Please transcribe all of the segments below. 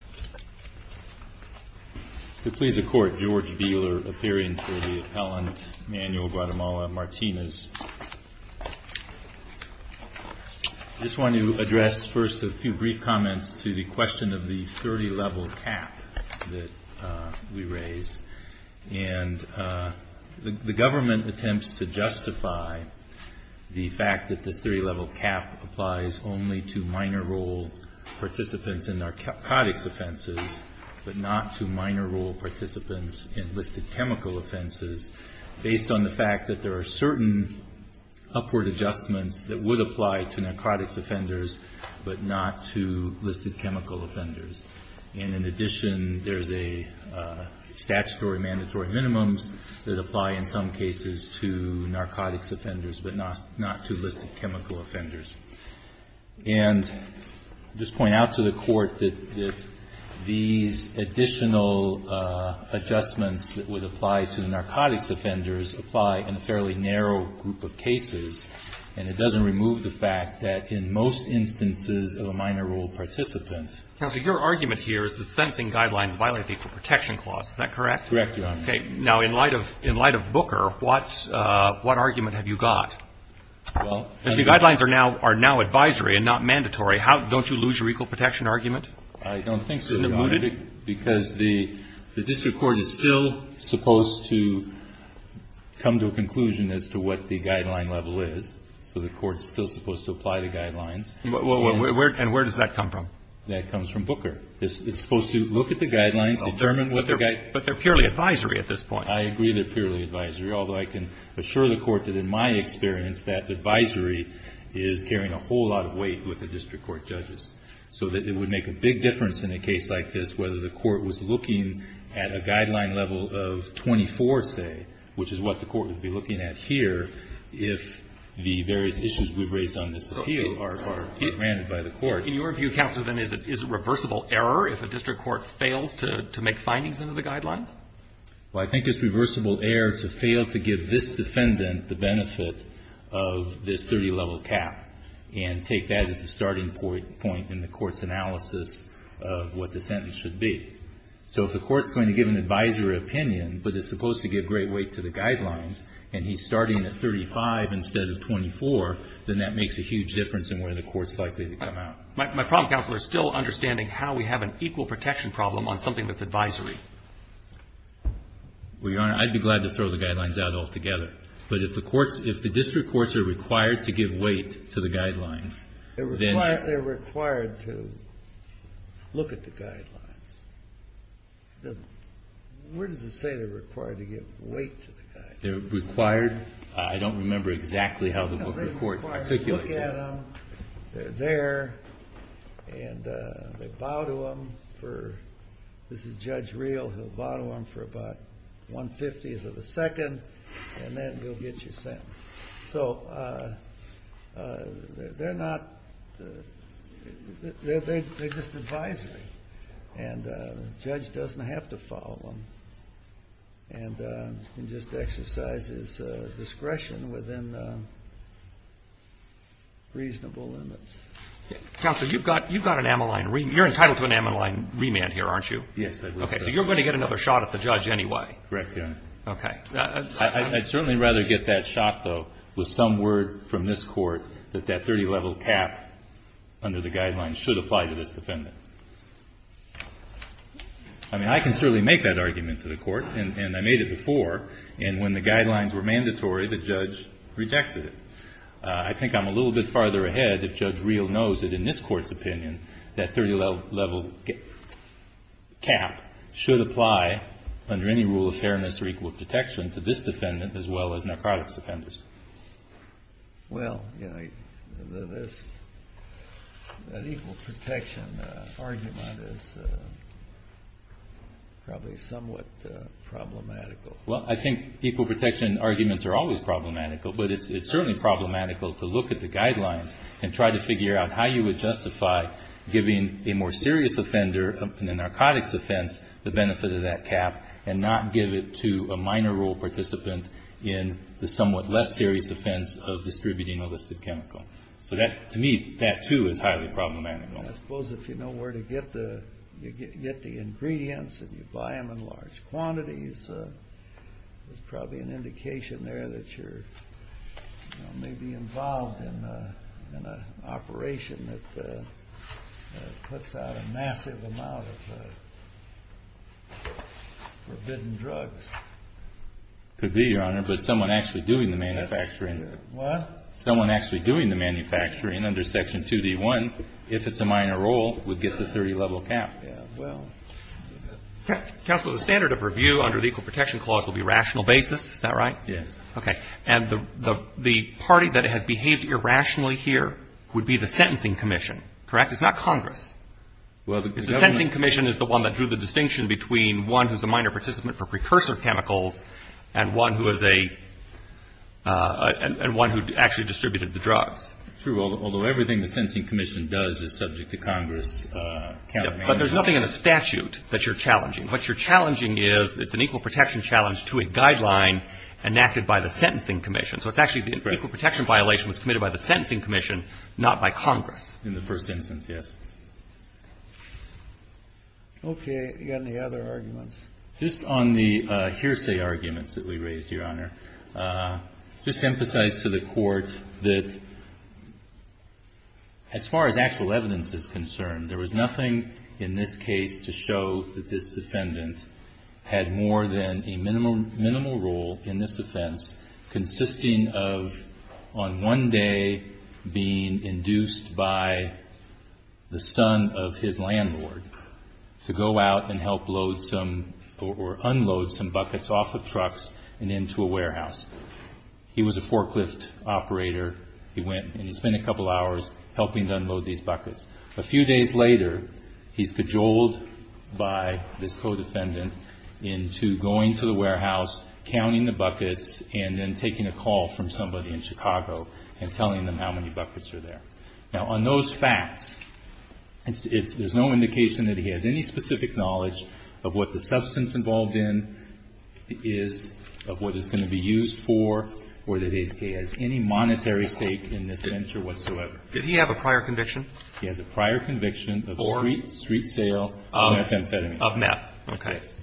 I just want to address first a few brief comments to the question of the 30-level cap that we raise. And the government attempts to justify the fact that this 30-level cap applies only to minor role participants in narcotics offenses, but not to minor role participants in listed chemical offenses based on the fact that there are certain upward adjustments that would apply to narcotics offenders, but not to listed chemical offenders. And in addition, there is a statutory mandatory minimums that apply in some cases to narcotics offenders, but not to listed chemical offenders. And I'll just point out to the Court that these additional adjustments that would apply to narcotics offenders apply in a fairly narrow group of cases, and it doesn't remove the fact that in most instances of a minor role participant. Roberts. Counselor, your argument here is that the sentencing guidelines violate the Equal Protection Clause. Is that correct? Martinez. Correct, Your Honor. Roberts. Okay. Now, in light of Booker, what argument have you got? If the guidelines are now advisory and not mandatory, don't you lose your equal protection argument? Martinez. I don't think so, Your Honor, because the district court is still supposed to come to a conclusion as to what the guideline level is. So the court is still supposed to apply the guidelines. Roberts. And where does that come from? Martinez. That comes from Booker. It's supposed to look at the guidelines, determine what the guidelines are. Roberts. Okay. But they're purely advisory at this point. Martinez. I agree they're purely advisory, although I can assure the Court that in my experience, that advisory is carrying a whole lot of weight with the district court judges. So it would make a big difference in a case like this whether the court was looking at a guideline level of 24, say, which is what the court would be looking at here if the various issues we've raised on this appeal are granted by the court. Roberts. In your view, Counselor, then, is it reversible error if a district court fails to make findings into the guidelines? Martinez. Well, I think it's reversible error to fail to give this defendant the benefit of this 30-level cap and take that as the starting point in the court's analysis of what the sentence should be. So if the court's going to give an advisory opinion, but it's supposed to give great weight to the guidelines, and he's starting at 35 instead of 24, then that makes a huge difference in where the court's likely to come out. My problem, Counselor, is still understanding how we have an equal protection problem on something that's advisory. Martinez. Well, Your Honor, I'd be glad to throw the guidelines out altogether. But if the courts – if the district courts are required to give weight to the guidelines, then… Kennedy. They're required to look at the guidelines. Where does it say they're required to give weight to the guidelines? Martinez. They're required – I don't remember exactly how the court articulates that. Kennedy. They're required to follow them. They're there. And they bow to them for – this is Judge Real. He'll bow to them for about one-fiftieth of a second, and then he'll get you sent. So they're not – they're just advisory. And the judge doesn't have to follow them. And you can just exercise his discretion within the reasonable limits. Roberts. Counselor, you've got – you've got an Ammaline remand. You're entitled to an Ammaline remand here, aren't you? Martinez. Yes, I am. Roberts. Okay. So you're going to get another shot at the judge anyway? Martinez. Correct, Your Honor. Roberts. Okay. Martinez. I'd certainly rather get that shot, though, with some word from this court that that 30-level cap under the guidelines should apply to this defendant. I mean, I can certainly make that argument to the court, and I made it before. And when the guidelines were mandatory, the judge rejected it. I think I'm a little bit farther ahead if Judge Real knows that in this Court's opinion, that 30-level cap should apply under any rule of fairness or equal protection to this defendant as well as narcotics offenders. Kennedy. Well, you know, this – that equal protection argument is probably somewhat problematical. Martinez. Well, I think equal protection arguments are always problematical, but it's certainly problematical to look at the guidelines and try to figure out how you would justify giving a more serious offender in a narcotics offense the benefit of that cap and not give it to a minor role participant in the somewhat less serious offense of distributing a listed chemical. So that – to me, that, too, is highly problematical. Kennedy. I suppose if you know where to get the ingredients, if you buy them in the market, there's probably an indication there that you're, you know, maybe involved in a – in an operation that puts out a massive amount of forbidden drugs. Martinez. Could be, Your Honor, but someone actually doing the manufacturing – Kennedy. What? Martinez. Someone actually doing the manufacturing under Section 2D1, if it's a minor role, would get the 30-level cap. Kennedy. Yeah, well. Martinez. Counsel, the standard of review under the Equal Protection Clause will be rational basis. Is that right? Kennedy. Yes. Martinez. Okay. And the party that has behaved irrationally here would be the Sentencing Commission, correct? It's not Congress. Kennedy. Well, the Government – Martinez. The Sentencing Commission is the one that drew the distinction between one who's a minor participant for precursor chemicals and one who is a – and one who actually distributed the drugs. Kennedy. True, although everything the Sentencing Commission does is subject to Congress countermeasures. There's nothing in the statute that you're challenging. What you're challenging is it's an equal protection challenge to a guideline enacted by the Sentencing Commission. So it's actually the equal protection violation was committed by the Sentencing Commission, not by Congress. Martinez. In the first instance, yes. Kennedy. Okay. You got any other arguments? Martinez. Just on the hearsay arguments that we raised, Your Honor, just to emphasize to the Court that as far as actual evidence is concerned, there was nothing in this case to show that this defendant had more than a minimal role in this offense consisting of on one day being induced by the son of his landlord to go out and help load some or unload some buckets off of trucks and into a warehouse. He was a forklift operator. He went and he spent a couple hours helping to unload these buckets. A few days later, he's cajoled by his co-defendant into going to the warehouse, counting the buckets, and then taking a call from somebody in Chicago and telling them how many buckets are there. Now, on those facts, it's – there's no indication that he has any specific knowledge of what the substance involved in is, of what the substance is going to be used for, or that he has any monetary stake in this venture whatsoever. Roberts. Did he have a prior conviction? Martinez. He has a prior conviction of street sale of methamphetamine. Roberts. Of meth. Okay. Martinez.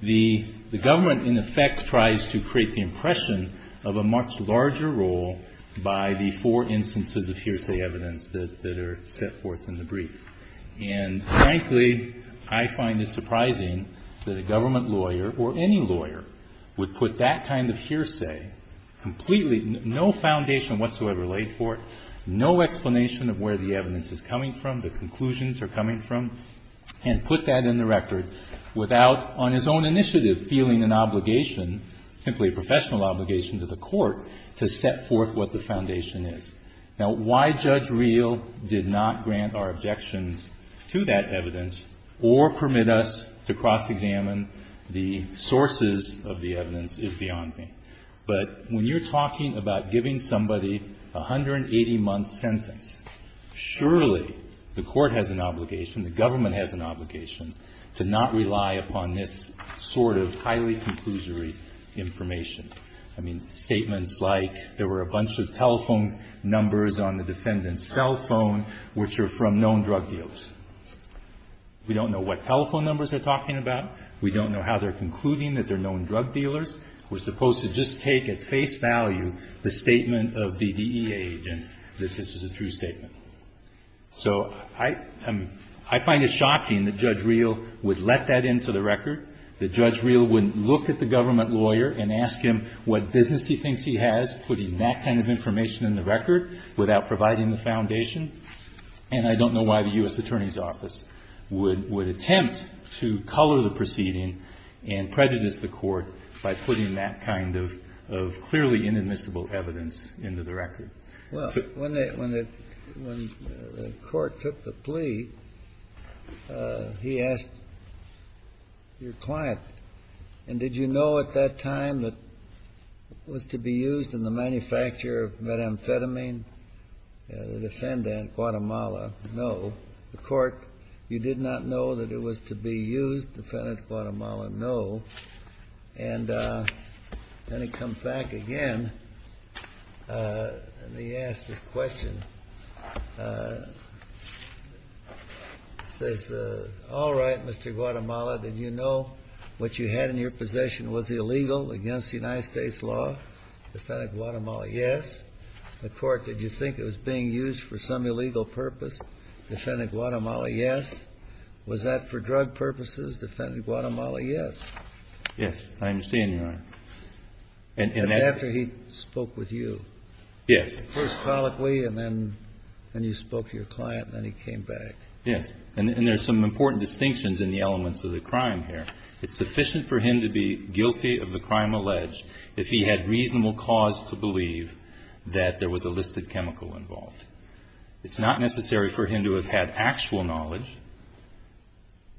Yes. The Government, in effect, tries to create the impression of a much larger role by the four instances of hearsay evidence that are set forth in the brief. And frankly, I find it surprising that a Government lawyer or any lawyer would put that kind of hearsay completely – no foundation whatsoever laid for it, no explanation of where the evidence is coming from, the conclusions are coming from, and put that in the record without, on his own initiative, feeling an obligation, simply a professional obligation to the Court, to set forth what the foundation is. Now, why Judge Reel did not grant our objections to that evidence or permit us to cross-examine the sources of the evidence is beyond me. But when you're talking about giving somebody a 180-month sentence, surely the Court has an obligation, the Government has an obligation, to not rely upon this sort of highly conclusory information. I mean, statements like, there were a bunch of telephone numbers on the defendant's cell phone which are from known drug dealers. We don't know what telephone numbers they're talking about. We don't know how they're concluding that they're known drug dealers. We're supposed to just take at face value the statement of the DEA agent that this is a true statement. So I find it shocking that Judge Reel would let that into the record, that Judge Reel wouldn't look at the Government lawyer and ask him what business he thinks he has, putting that kind of information in the record without providing the foundation. And I don't know why the U.S. Attorney's Office would attempt to color the proceeding and prejudice the Court by putting that kind of clearly inadmissible evidence into the record. Well, when the Court took the plea, he asked your client, and did you know at that time that it was to be used in the manufacture of methamphetamine? The defendant, Guatemala, no. The Court, you did not know that it was to be used? Defendant, Guatemala, yes. Let me ask this question. He says, all right, Mr. Guatemala, did you know what you had in your possession was illegal against the United States law? Defendant, Guatemala, yes. The Court, did you think it was being used for some illegal purpose? Defendant, Guatemala, yes. Was that for drug purposes? Defendant, Guatemala, yes. Yes, I understand, Your Honor. That's after he spoke with you. Yes. First colloquially, and then you spoke to your client, and then he came back. Yes. And there's some important distinctions in the elements of the crime here. It's sufficient for him to be guilty of the crime alleged if he had reasonable cause to believe that there was a listed chemical involved. It's not necessary for him to have had actual knowledge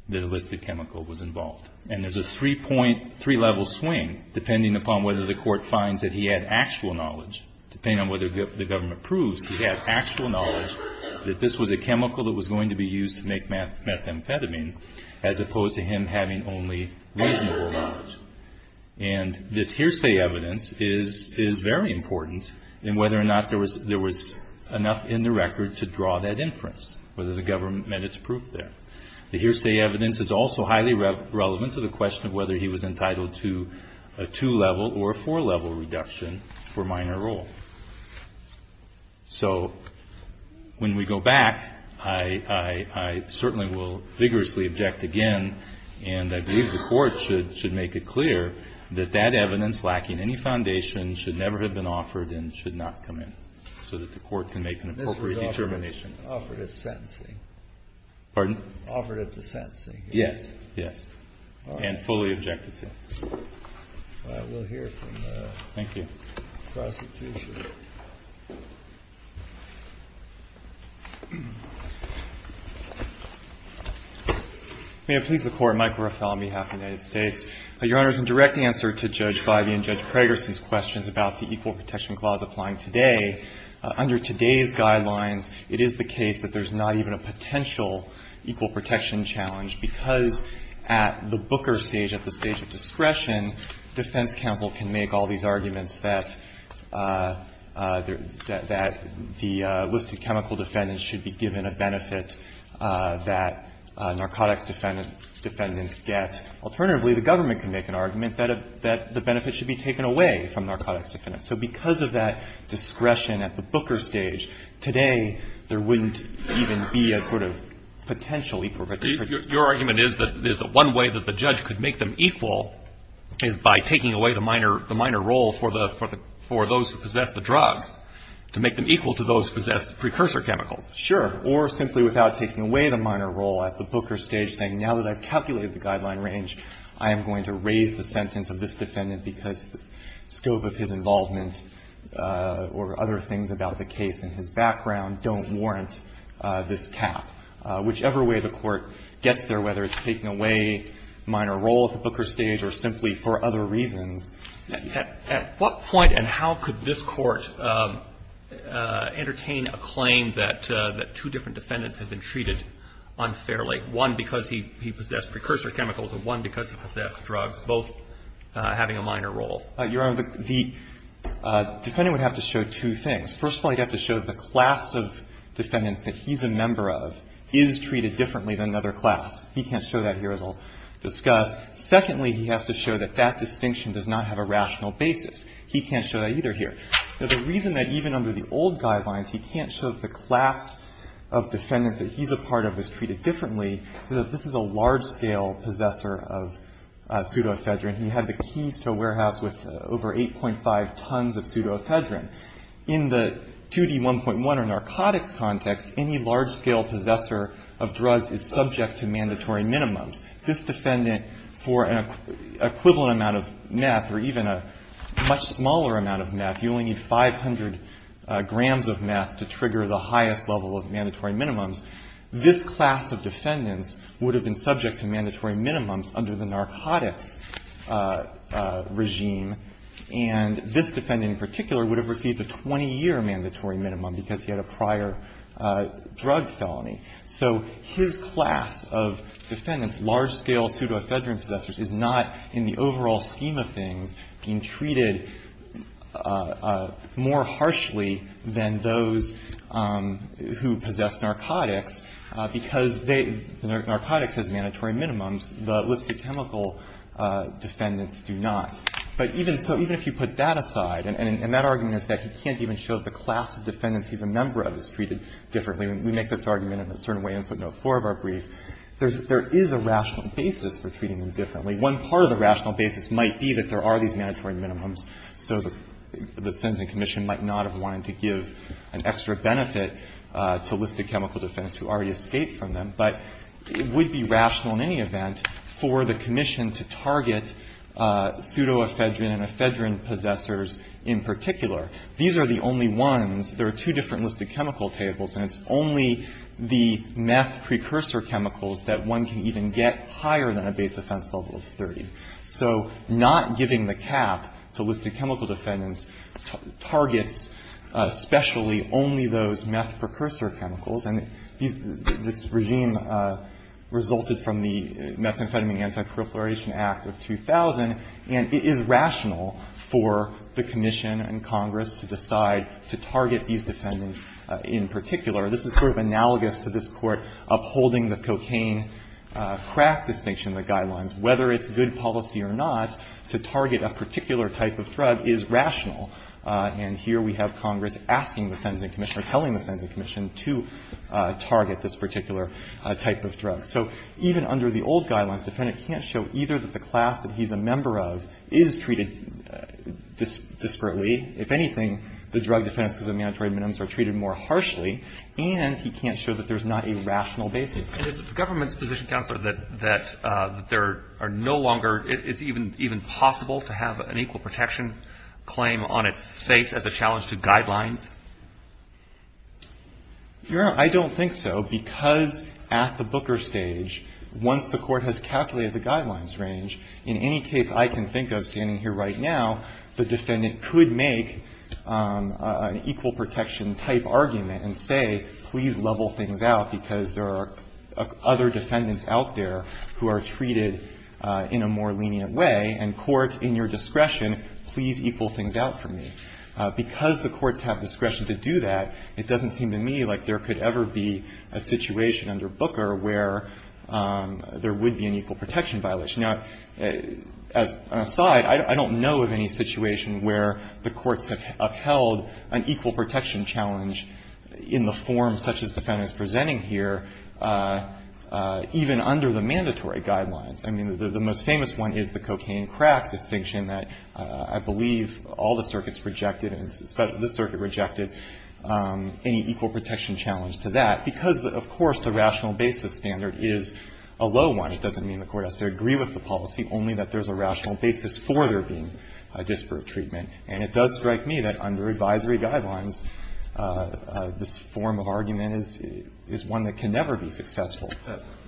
that a listed chemical was involved. And there's a three-point, three-level swing, depending upon whether the Court finds that he had actual knowledge. Depending on whether the government proves he had actual knowledge that this was a chemical that was going to be used to make methamphetamine, as opposed to him having only reasonable knowledge. And this hearsay evidence is very important in whether or not there was enough in the record to draw that inference, whether the government met its proof there. The hearsay evidence is also highly relevant to the question of whether he was guilty of the production for minor role. So when we go back, I certainly will vigorously object again, and I believe the Court should make it clear that that evidence lacking any foundation should never have been offered and should not come in, so that the Court can make an appropriate determination. This was offered as sentencing. Pardon? Offered as sentencing. Yes. Yes. And fully objected to. All right. We'll hear from the prosecution. May I please the Court? Michael Ruffalo on behalf of the United States. Your Honors, in direct answer to Judge Bidey and Judge Krager's questions about the Equal Protection Clause applying today, under today's guidelines, it is the case that there's not even a potential equal protection challenge, because at the Booker stage, at the stage of discretion, defense counsel can make all these arguments that the listed chemical defendants should be given a benefit that narcotics defendants get. Alternatively, the government can make an argument that the benefit should be taken away from narcotics defendants. So because of that discretion at the Booker stage, today there wouldn't even be a sort of potential equal protection. Your argument is that one way that the judge could make them equal is by taking away the minor role for those who possess the drugs to make them equal to those who possess the precursor chemicals. Sure. Or simply without taking away the minor role at the Booker stage, saying now that I've calculated the guideline range, I am going to raise the sentence of this defendant because the scope of his involvement or other things about the case and his background don't warrant this cap. Whichever way the Court gets there, whether it's taking away the minor role at the Booker stage or simply for other reasons. At what point and how could this Court entertain a claim that two different defendants had been treated unfairly, one because he possessed precursor chemicals and one because he possessed drugs, both having a minor role? Your Honor, the defendant would have to show two things. First of all, he'd have to show the class of defendants that he's a member of is treated differently than another class. He can't show that here, as I'll discuss. Secondly, he has to show that that distinction does not have a rational basis. He can't show that either here. Now, the reason that even under the old guidelines he can't show the class of defendants that he's a part of is treated differently is that this is a large-scale possessor of pseudoephedrine. He had the keys to a warehouse with over 8.5 tons of pseudoephedrine. In the 2D1.1 or narcotics context, any large-scale possessor of drugs is subject to mandatory minimums. This defendant, for an equivalent amount of meth or even a much smaller amount of meth, you only need 500 grams of meth to trigger the highest level of mandatory minimums. This class of defendants would have been subject to mandatory minimums under the narcotics regime, and this defendant in particular would have received a 20-year mandatory minimum because he had a prior drug felony. So his class of defendants, large-scale pseudoephedrine possessors, is not, in the overall scheme of things, being treated more harshly than those who possess narcotics, because they – the narcotics has mandatory minimums. The illicit chemical defendants do not. But even – so even if you put that aside – and that argument is that he can't even show the class of defendants he's a member of is treated differently. We make this argument in a certain way in footnote 4 of our brief. There's – there is a rational basis for treating them differently. One part of the rational basis might be that there are these mandatory minimums. So the sentencing commission might not have wanted to give an extra benefit to illicit chemical defendants who already escaped from them. But it would be rational in any event for the commission to target pseudoephedrine and ephedrine possessors in particular. These are the only ones – there are two different illicit chemical tables, and it's only the meth precursor chemicals that one can even get higher than a base offense level of 30. So not giving the cap to illicit chemical defendants targets especially only those meth precursor chemicals. And these – this regime resulted from the Methamphetamine Anti-Proliferation Act of 2000, and it is rational for the commission and Congress to decide to target these defendants in particular. This is sort of analogous to this Court upholding the cocaine crack distinction in the Guidelines. Whether it's good policy or not to target a particular type of drug is rational. And here we have Congress asking the sentencing commission or telling the sentencing commission to target this particular type of drug. So even under the old Guidelines, the defendant can't show either that the class that he's a member of is treated disparately. If anything, the drug defendants because of mandatory minimums are treated more harshly, and he can't show that there's not a rational basis. And is the government's position, Counselor, that there are no longer – it's even possible to have an equal protection claim on its face as a challenge to Guidelines? You're – I don't think so, because at the Booker stage, once the Court has calculated the Guidelines range, in any case I can think of standing here right now, the defendant could make an equal protection-type argument and say, please level things out, because there are other defendants out there who are treated in a more lenient way, and court, in your discretion, please equal things out for me. Because the courts have this discretion to do that, it doesn't seem to me like there could ever be a situation under Booker where there would be an equal protection violation. Now, as an aside, I don't know of any situation where the courts have upheld an equal protection challenge in the form such as the defendant is presenting here, even under the mandatory Guidelines. I mean, the most famous one is the cocaine crack distinction that I believe all the circuits rejected, and in fact, this circuit rejected, any equal protection challenge to that, because, of course, the rational basis standard is a low one. It doesn't mean the court has to agree with the policy, only that there's a rational basis for there being a disparate treatment. And it does strike me that under advisory Guidelines, this form of argument is one that can never be successful.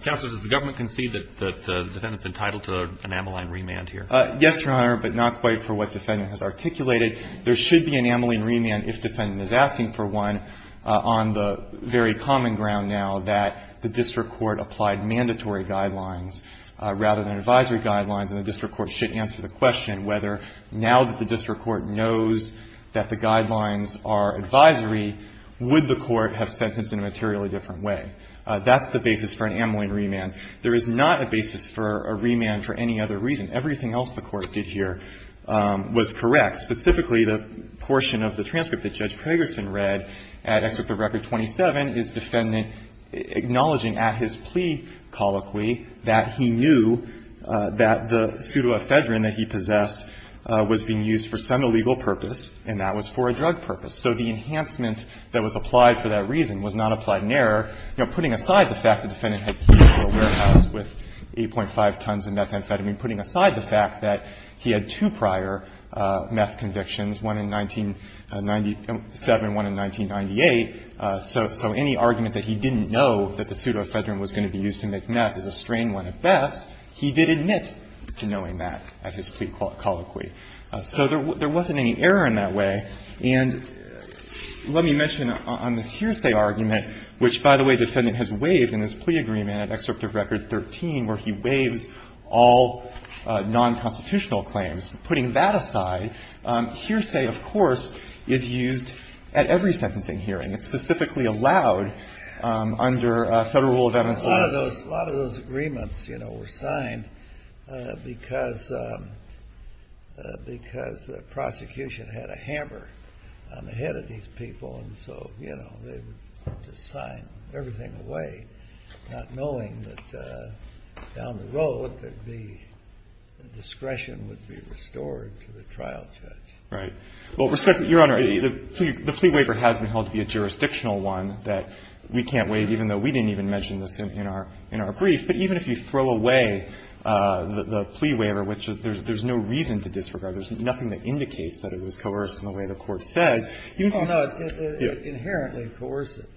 Counsel, does the government concede that the defendant's entitled to an amyline remand here? Yes, Your Honor, but not quite for what the defendant has articulated. There should be an amyline remand if the defendant is asking for one on the very common ground now that the district court applied mandatory Guidelines rather than advisory Guidelines, and the district court should answer the question whether now that the district court knows that the Guidelines are advisory, would the court have sentenced in a materially different way. That's the basis for an amyline remand. There is not a basis for a remand for any other reason. Everything else the court did here was correct. Specifically, the portion of the transcript that Judge Pragerson read at Excerpt of Record 27 is defendant acknowledging at his plea colloquy that he knew that the pseudoephedrine that he possessed was being used for some illegal purpose, and that was for a drug purpose. So the enhancement that was applied for that reason was not applied in error. You know, putting aside the fact that the defendant had keyed into a warehouse with 8.5 tons of methamphetamine, putting aside the fact that he had two prior meth convictions, one in 1997, one in 1998, so any argument that he didn't know that the pseudoephedrine was going to be used to make meth is a strange one at best, he did admit to knowing that at his plea colloquy. So there wasn't any error in that way. And let me mention on this hearsay argument, which, by the way, the defendant has waived in his plea agreement at Excerpt of Record 13, where he waives all non-constitutional claims. Putting that aside, hearsay, of course, is used at every sentencing hearing. It's specifically allowed under Federal Rule of Eminence. A lot of those agreements, you know, were signed because the prosecution had a hammer on the head of these people, and so, you know, they would just sign everything away, not knowing that down the road the discretion would be restored to the trial judge. Right. Well, Your Honor, the plea waiver has been held to be a jurisdictional one that we can't waive, even though we didn't even mention this in our brief. But even if you throw away the plea waiver, which there's no reason to disregard, there's nothing that indicates that it was coercive in the way the Court says. Oh, no, it's inherently coercive.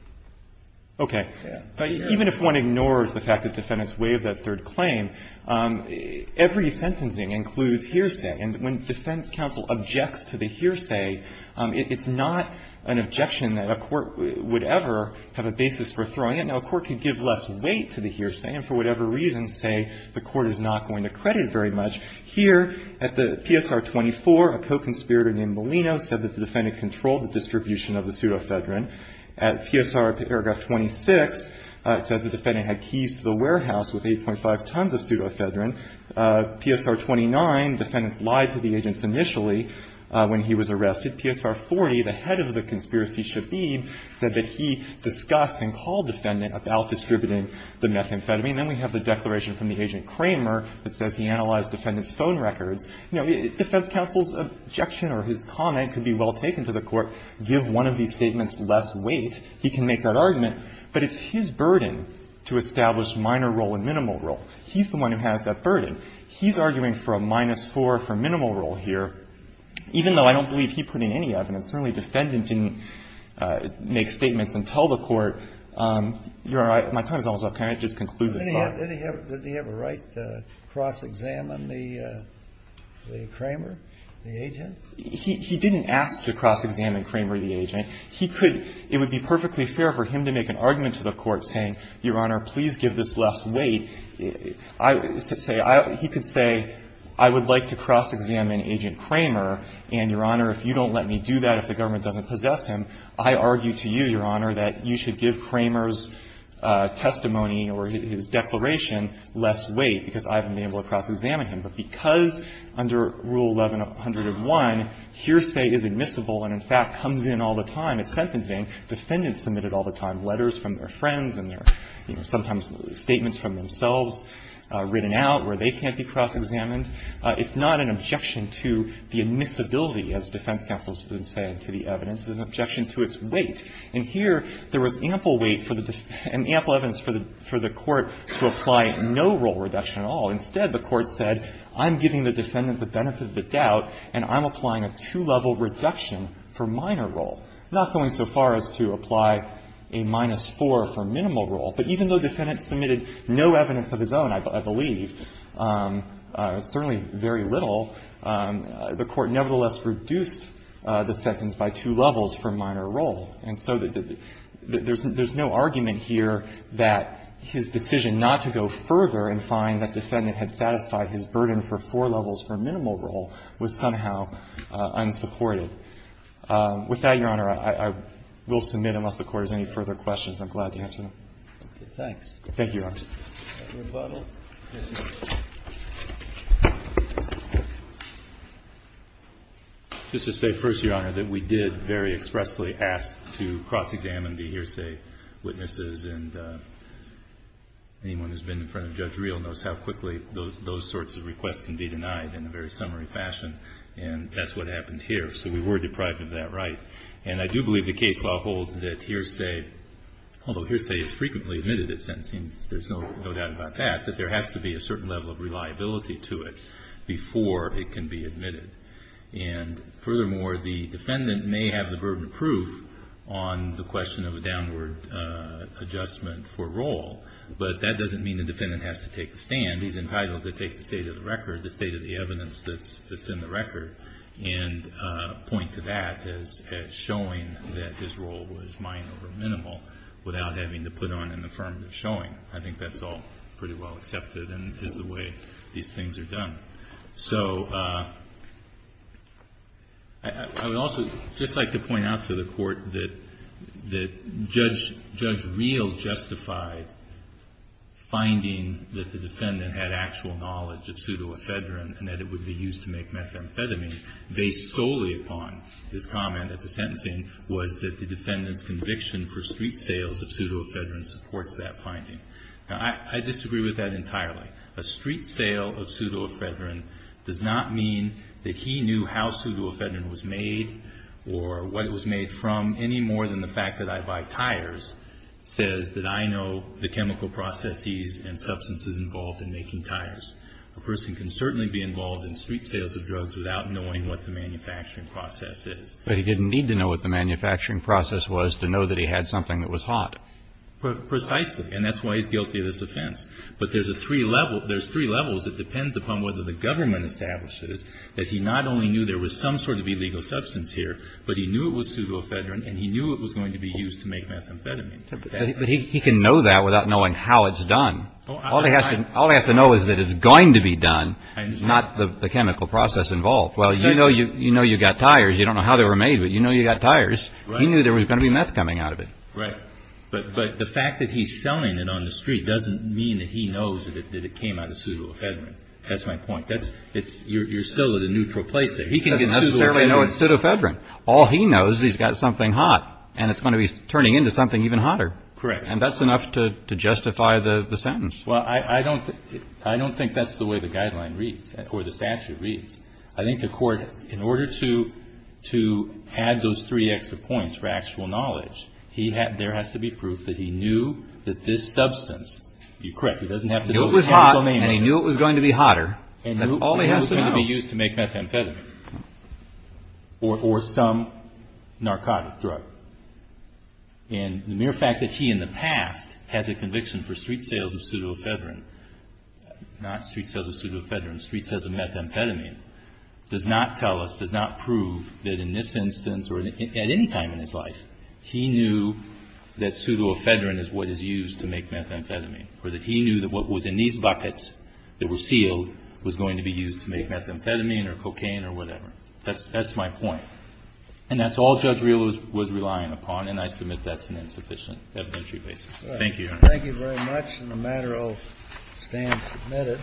Okay. But even if one ignores the fact that defendants waived that third claim, every sentencing includes hearsay. And when defense counsel objects to the hearsay, it's not an objection that a court would ever have a basis for throwing it. Now, a court could give less weight to the hearsay and, for whatever reason, say the PSR-24, a co-conspirator named Molino, said that the defendant controlled the distribution of the pseudofedrin. At PSR paragraph 26, it says the defendant had keys to the warehouse with 8.5 tons of pseudofedrin. PSR-29, defendants lied to the agents initially when he was arrested. PSR-40, the head of the conspiracy, Shabib, said that he discussed and called the defendant about distributing the methamphetamine. Then we have the declaration from the agent Kramer that says he analyzed the defendant's phone records. You know, defense counsel's objection or his comment could be well taken to the court. Give one of these statements less weight, he can make that argument. But it's his burden to establish minor role and minimal role. He's the one who has that burden. He's arguing for a minus 4 for minimal role here, even though I don't believe he put in any evidence. Certainly, defendant didn't make statements and tell the court. Your Honor, my time is almost up. Can I just conclude this thought? Did he have a right to cross-examine the Kramer, the agent? He didn't ask to cross-examine Kramer, the agent. He could — it would be perfectly fair for him to make an argument to the court saying, Your Honor, please give this less weight. I would say — he could say, I would like to cross-examine Agent Kramer, and, Your Honor, if you don't let me do that, if the government doesn't possess him, I argue to you, Your Honor, that you should give Kramer's testimony or his declaration less weight, because I haven't been able to cross-examine him. But because under Rule 1101, hearsay is admissible and, in fact, comes in all the time at sentencing, defendants submit it all the time, letters from their friends and their, you know, sometimes statements from themselves written out where they can't be cross-examined. It's not an objection to the admissibility, as defense counsels have said, to the evidence. It's an objection to its weight. And here, there was ample weight for the — and ample evidence for the court to apply no role reduction at all. Instead, the Court said, I'm giving the defendant the benefit of the doubt, and I'm applying a two-level reduction for minor role, not going so far as to apply a minus four for minimal role. But even though defendants submitted no evidence of his own, I believe, certainly very little, the Court nevertheless reduced the sentence by two levels for minor role. And so there's no argument here that his decision not to go further and find that defendant had satisfied his burden for four levels for minimal role was somehow unsupported. With that, Your Honor, I will submit, unless the Court has any further questions. I'm glad to answer them. Roberts. Thank you, Your Honor. Just to say first, Your Honor, that we did very expressly ask to cross-examine the hearsay witnesses, and anyone who's been in front of Judge Reel knows how quickly those sorts of requests can be denied in a very summary fashion, and that's what happened here. So we were deprived of that right. And I do believe the case law holds that hearsay, although hearsay is frequently admitted at sentencing, there's no doubt about that, that there has to be a certain level of reliability to it before it can be admitted. And furthermore, the defendant may have the burden of proof on the question of a downward adjustment for role, but that doesn't mean the defendant has to take the stand. He's entitled to take the state of the record, the state of the evidence that's in the record, and point to that as showing that his role was minor or minimal without having to put on an affirmative showing. I think that's all pretty well accepted and is the way these things are done. So I would also just like to point out to the Court that Judge Reel justified finding that the defendant had actual knowledge of pseudoephedrine and that it would be used to make methamphetamine based solely upon his comment at the sentencing was that the defendant's conviction for street sales of pseudoephedrine supports that finding. Now, I disagree with that entirely. A street sale of pseudoephedrine does not mean that he knew how pseudoephedrine was made or what it was made from any more than the fact that I buy tires says that I know the chemical processes and substances involved in making tires. A person can certainly be involved in street sales of drugs without knowing what the manufacturing process is. But he didn't need to know what the manufacturing process was to know that he had something that was hot. Precisely, and that's why he's guilty of this offense. But there's three levels. It depends upon whether the government establishes that he not only knew there was some sort of illegal substance here, but he knew it was pseudoephedrine and he knew it was going to be used to make methamphetamine. But he can know that without knowing how it's done. All he has to know is that it's going to be done, not the chemical process involved. Well, you know you got tires. You don't know how they were made, but you know you got tires. He knew there was going to be meth coming out of it. Right. But the fact that he's selling it on the street doesn't mean that he knows that it came out of pseudoephedrine. That's my point. You're still at a neutral place there. He can know it's pseudoephedrine. All he knows is he's got something hot and it's going to be turning into something even hotter. Correct. And that's enough to justify the sentence. Well, I don't think that's the way the guideline reads or the statute reads. I think the court, in order to add those three extra points for actual knowledge, there has to be proof that he knew that this substance, you're correct, he doesn't have to know the chemical name. He knew it was hot and he knew it was going to be hotter. That's all he has to know. And he knew it was going to be used to make methamphetamine or some narcotic drug. And the mere fact that he in the past has a conviction for street sales of pseudoephedrine, not street sales of pseudoephedrine, street sales of methamphetamine, does not tell us, does not prove that in this instance or at any time in his life, he knew that pseudoephedrine is what is used to make methamphetamine or that he knew that what was in these buckets that were sealed was going to be used to make methamphetamine or cocaine or whatever. That's my point. And that's all Judge Rehl was relying upon, and I submit that's an insufficient evidentiary basis. Thank you, Your Honor. Thank you very much. And the matter will stand submitted.